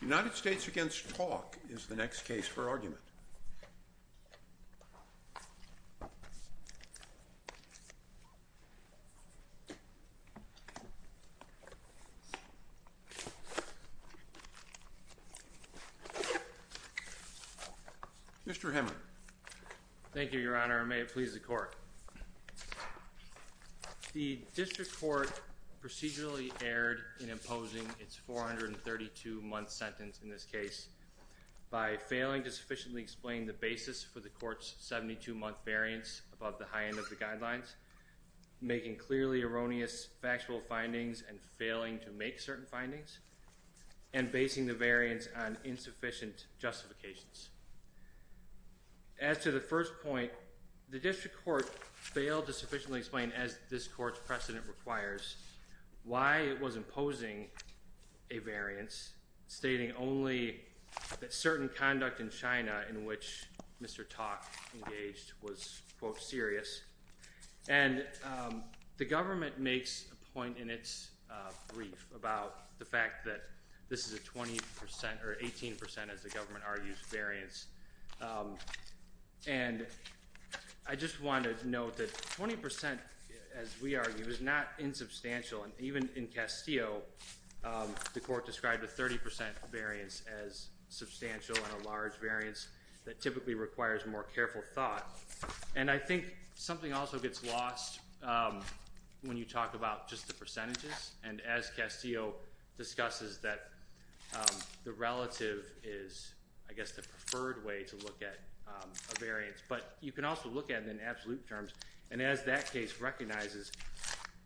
The United States v. Tauck is the next case for argument. Mr. Hemmant. Thank you, Your Honor, and may it please the Court. The District Court procedurally erred in imposing its 432-month sentence in this case by failing to sufficiently explain the basis for the Court's 72-month variance above the high end of the guidelines, making clearly erroneous factual findings and failing to make certain findings, and basing the variance on insufficient justifications. As to the first point, the District Court failed to sufficiently explain, as this Court's precedent requires, why it was imposing a variance, stating only that certain conduct in China in which Mr. Tauck engaged was, quote, serious, and the government makes a point in its brief about the fact that this is a 20% or 18%, as the government argues, variance. And I just want to note that 20%, as we argue, is not insubstantial, and even in Castillo, the Court described a 30% variance as substantial and a large variance that typically requires more careful thought. And I think something also gets lost when you talk about just the percentages, and as Castillo discusses that the relative is, I guess, the preferred way to look at a variance, but you can also look at it in absolute terms, and as that case recognizes,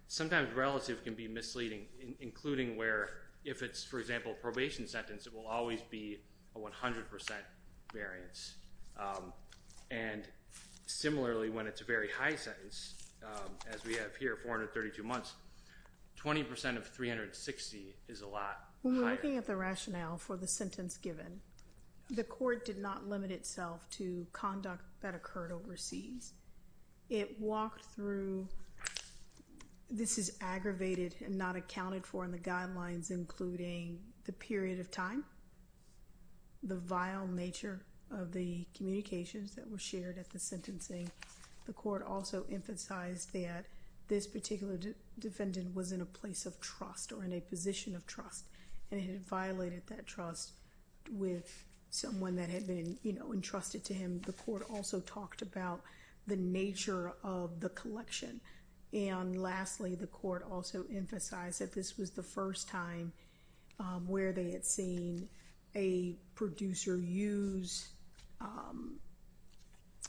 sometimes relative can be misleading, including where, if it's, for example, a probation sentence, it will always be a 100% variance. And similarly, when it's a very high sentence, as we have here, 432 months, 20% of 360 is a lot higher. When we're looking at the rationale for the sentence given, the Court did not limit itself to conduct that occurred overseas. It walked through, this is aggravated and not accounted for in the guidelines, including the period of time, the vile nature of the communications that were shared at the sentencing. The Court also emphasized that this particular defendant was in a place of trust or in a position of trust, and it had violated that trust with someone that had been entrusted to him. The Court also talked about the nature of the collection, and lastly, the Court also emphasized that this was the first time where they had seen a producer use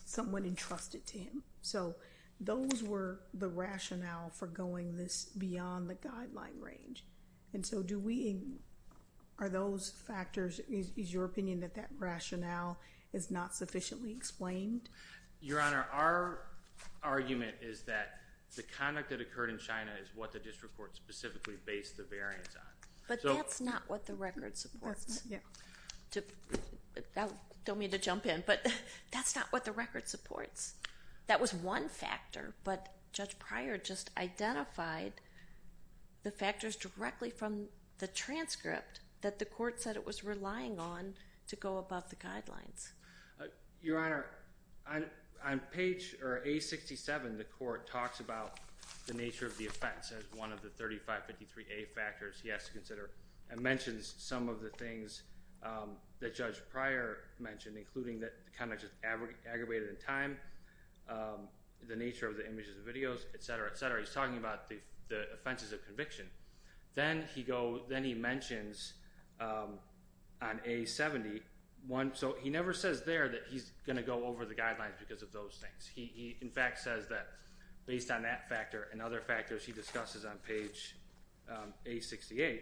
someone entrusted to him. So, those were the rationale for going this beyond the guideline range. And so, do we, are those factors, is your opinion that that rationale is not sufficiently explained? Your Honor, our argument is that the conduct that occurred in China is what the District Court specifically based the variance on. But that's not what the record supports. I don't mean to jump in, but that's not what the record supports. That was one factor, but Judge Pryor just identified the factors directly from the transcript that the Court said it was relying on to go above the guidelines. Your Honor, on page, or A67, the Court talks about the nature of the offense as one of the 3553A factors he has to consider, and mentions some of the things that Judge Pryor mentioned, including that the conduct is aggravated in time, the nature of the images and videos, et cetera, et cetera. He's talking about the offenses of conviction. Then he mentions, on A71, so he never says there that he's going to go over the guidelines because of those things. He, in fact, says that based on that factor and other factors he discusses on page A68,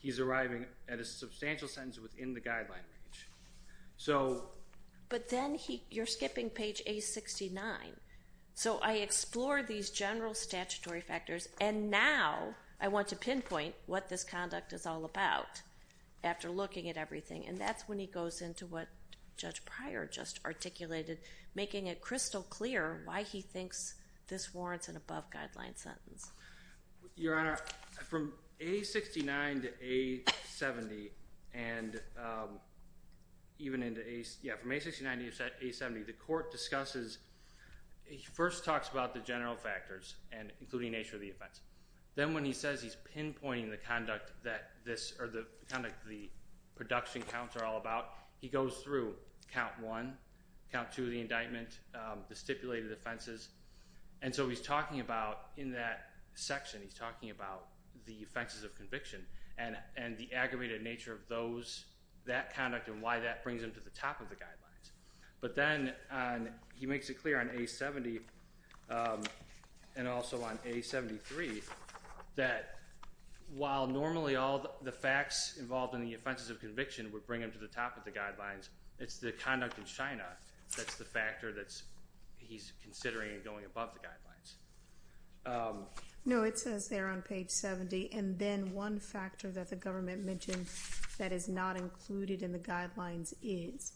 he's arriving at a substantial sentence within the guideline range. So... But then you're skipping page A69. So I explore these general statutory factors, and now I want to pinpoint what this conduct is all about, after looking at everything. And that's when he goes into what Judge Pryor just articulated, making it crystal clear why he thinks this warrants an above-guideline sentence. Your Honor, from A69 to A70, and even into A... Yeah, from A69 to A70, the court discusses... He first talks about the general factors, including nature of the offense. Then when he says he's pinpointing the conduct that this... Or the conduct the production counts are all about, he goes through count one, count two of the indictment, the stipulated offenses. And so he's talking about, in that section, he's talking about the offenses of conviction and the aggravated nature of those... That conduct and why that brings him to the top of the guidelines. But then he makes it clear on A70, and also on A73, that while normally all the facts involved in the offenses of conviction would bring him to the top of the guidelines, it's the conduct in China that's the factor that he's considering going above the guidelines. No, it says there on page 70, and then one factor that the government mentioned that is not included in the guidelines is.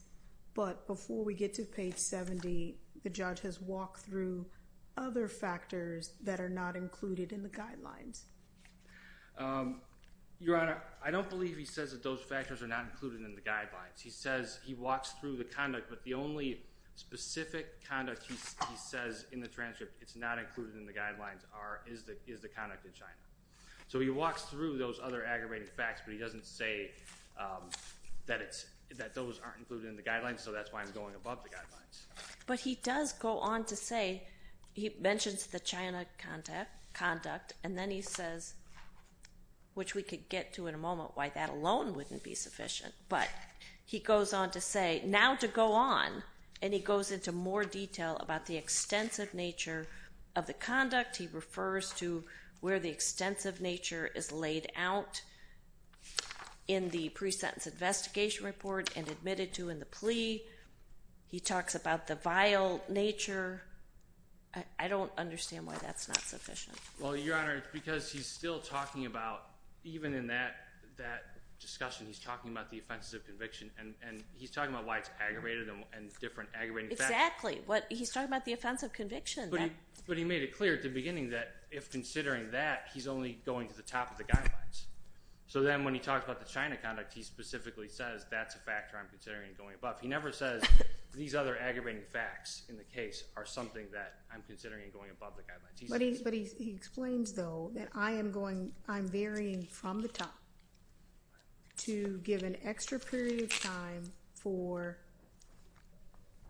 But before we get to page 70, the judge has walked through other factors that are not included in the guidelines. Your Honor, I don't believe he says that those factors are not included in the guidelines. He says he walks through the conduct, but the only specific conduct he says in the transcript it's not included in the guidelines are, is the conduct in China. So he walks through those other aggravating facts, but he doesn't say that those aren't included in the guidelines, so that's why I'm going above the guidelines. But he does go on to say, he mentions the China conduct, and then he says, which we get to in a moment, why that alone wouldn't be sufficient. But he goes on to say, now to go on, and he goes into more detail about the extensive nature of the conduct. He refers to where the extensive nature is laid out in the pre-sentence investigation report and admitted to in the plea. He talks about the vile nature. I don't understand why that's not sufficient. Well, Your Honor, because he's still talking about, even in that discussion, he's talking about the offenses of conviction, and he's talking about why it's aggravated and different aggravating facts. Exactly. He's talking about the offense of conviction. But he made it clear at the beginning that, if considering that, he's only going to the top of the guidelines. So then when he talks about the China conduct, he specifically says, that's a factor I'm considering going above. He never says, these other aggravating facts in the case are something that I'm considering going above the guidelines. But he explains, though, that I am going, I'm varying from the top to give an extra period of time for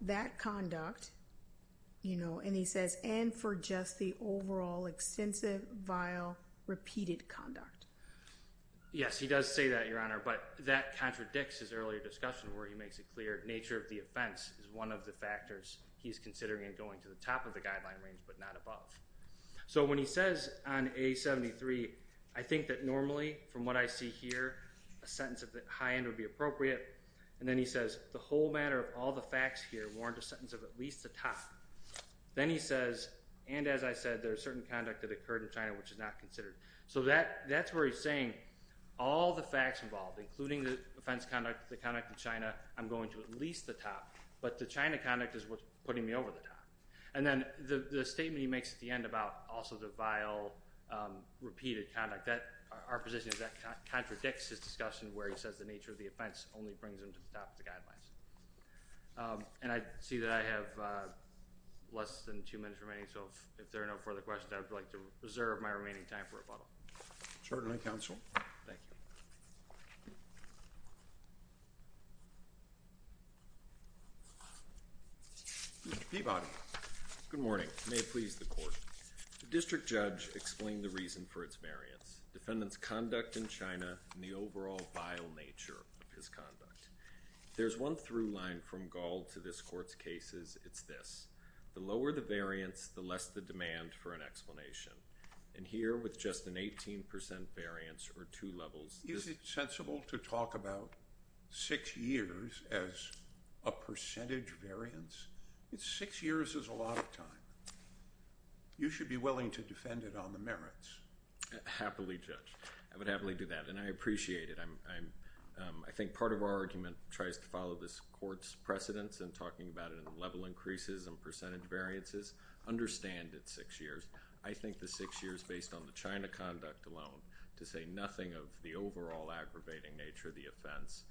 that conduct, you know, and he says, and for just the overall extensive vile repeated conduct. Yes, he does say that, Your Honor, but that contradicts his earlier discussion where he makes it clear nature of the offense is one of the factors he's considering going to the top of the guideline range, but not above. So when he says on A73, I think that normally, from what I see here, a sentence at the high end would be appropriate. And then he says, the whole matter of all the facts here warrant a sentence of at least the top. Then he says, and as I said, there's certain conduct that occurred in China which is not considered. So that's where he's saying, all the facts involved, including the offense conduct, the conduct in China, I'm going to at least the top. But the China conduct is what's putting me over the top. And then the statement he makes at the end about also the vile repeated conduct, our position is that contradicts his discussion where he says the nature of the offense only brings him to the top of the guidelines. And I see that I have less than two minutes remaining, so if there are no further questions, I would like to reserve my remaining time for rebuttal. Certainly, counsel. Thank you. Mr. Peabody. Good morning. May it please the Court. The district judge explained the reason for its variance, defendant's conduct in China, and the overall vile nature of his conduct. If there's one through line from Gall to this Court's cases, it's this. The lower the variance, the less the demand for an explanation. And here, with just an 18% variance or two levels... Is it sensible to talk about this? I think part of our argument tries to follow this Court's precedence in talking about level increases and percentage variances, understand it's six years. I think the six years based on the China conduct alone to say nothing of the overall aggravating nature of the offense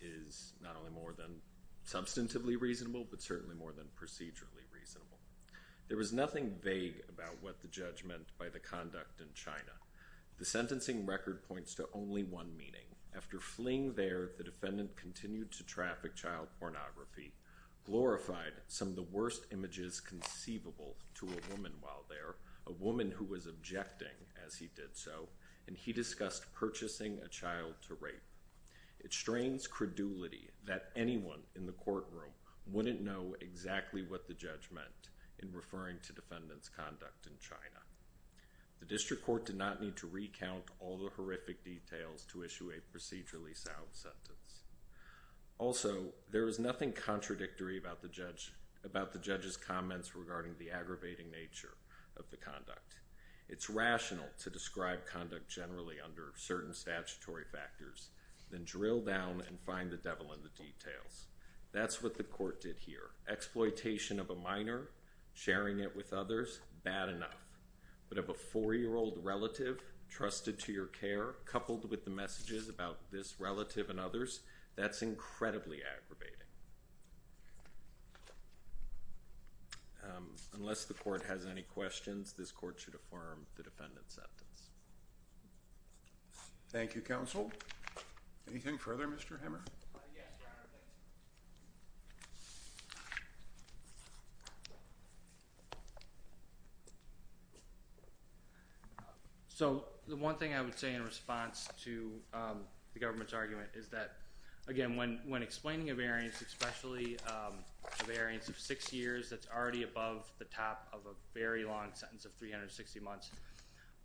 is not only more than substantively reasonable, but certainly more than procedurally reasonable. There was nothing vague about what the judge meant by the conduct in China. The sentencing record points to only one meaning. After fleeing there, the defendant continued to traffic child pornography, glorified some of the worst images conceivable to a woman while there, a woman who was objecting as he did so, and he discussed purchasing a child to rape. It strains credulity that anyone in the courtroom wouldn't know exactly what the judge meant in referring to defendant's conduct in China. The District Court did not need to recount all the horrific details to issue a procedurally sound sentence. Also, there was nothing contradictory about the judge's comments regarding the aggravating nature of the conduct. It's rational to describe conduct generally under certain statutory factors, then drill down and find the devil in the details. That's what the court did here. Exploitation of a minor, sharing it with others, bad enough, but of a four-year-old relative trusted to your care, coupled with the messages about this relative and others, that's incredibly aggravating. Unless the court has any questions, this court should affirm the defendant's sentence. Thank you, counsel. Anything further, Mr. Hammer? So the one thing I would say in response to the government's argument is that, again, when explaining a variance, especially a variance of six years that's already above the top of a very long sentence of 360 months,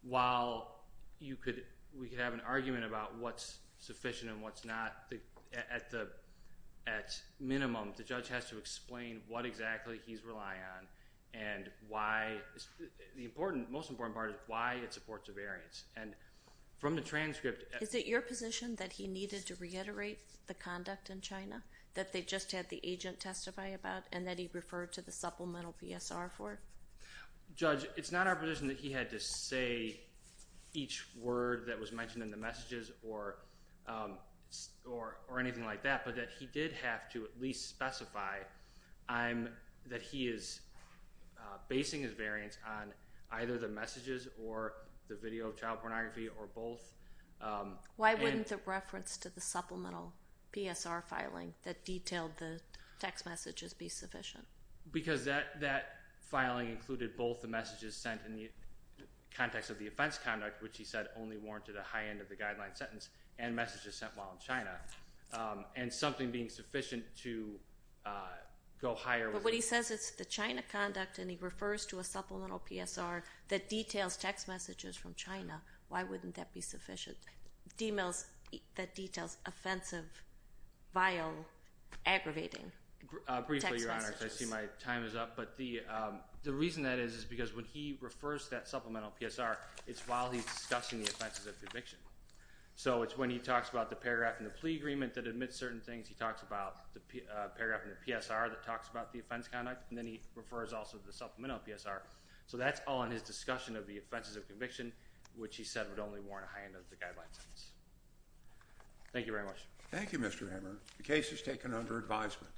while we could have an argument about what's sufficient and what's not, at minimum the judge has to explain what exactly he's relying on and why... the most important part is why it supports a variance. From the transcript...... that they just had the agent testify about, and that he referred to the supplemental PSR for it? Judge, it's not our position that he had to say each word that was mentioned in the messages or anything like that, but that he did have to at least specify that he is basing his variance on either the messages or the video of child pornography or both. Why wouldn't the reference to the supplemental PSR filing that detailed the text messages be sufficient? Because that filing included both the messages sent in the context of the offense conduct, which he said only warranted a high end of the guideline sentence, and messages sent while in China, and something being sufficient to go higher... But when he says it's the China conduct and he refers to a supplemental PSR that details text messages from China, why wouldn't that be sufficient? Emails that details offensive, vile, aggravating text messages. Briefly, Your Honor, because I see my time is up, but the reason that is is because when he refers to that supplemental PSR, it's while he's discussing the offenses of the eviction. So it's when he talks about the paragraph in the plea agreement that admits certain things, he talks about the paragraph in the PSR that talks about the offense conduct, and then he refers also to the supplemental PSR. So that's all in his discussion of the offenses of conviction, which he said would only warrant a high end of the guideline sentence. Thank you very much. Thank you, Mr. Hammer. The case is taken under advisement.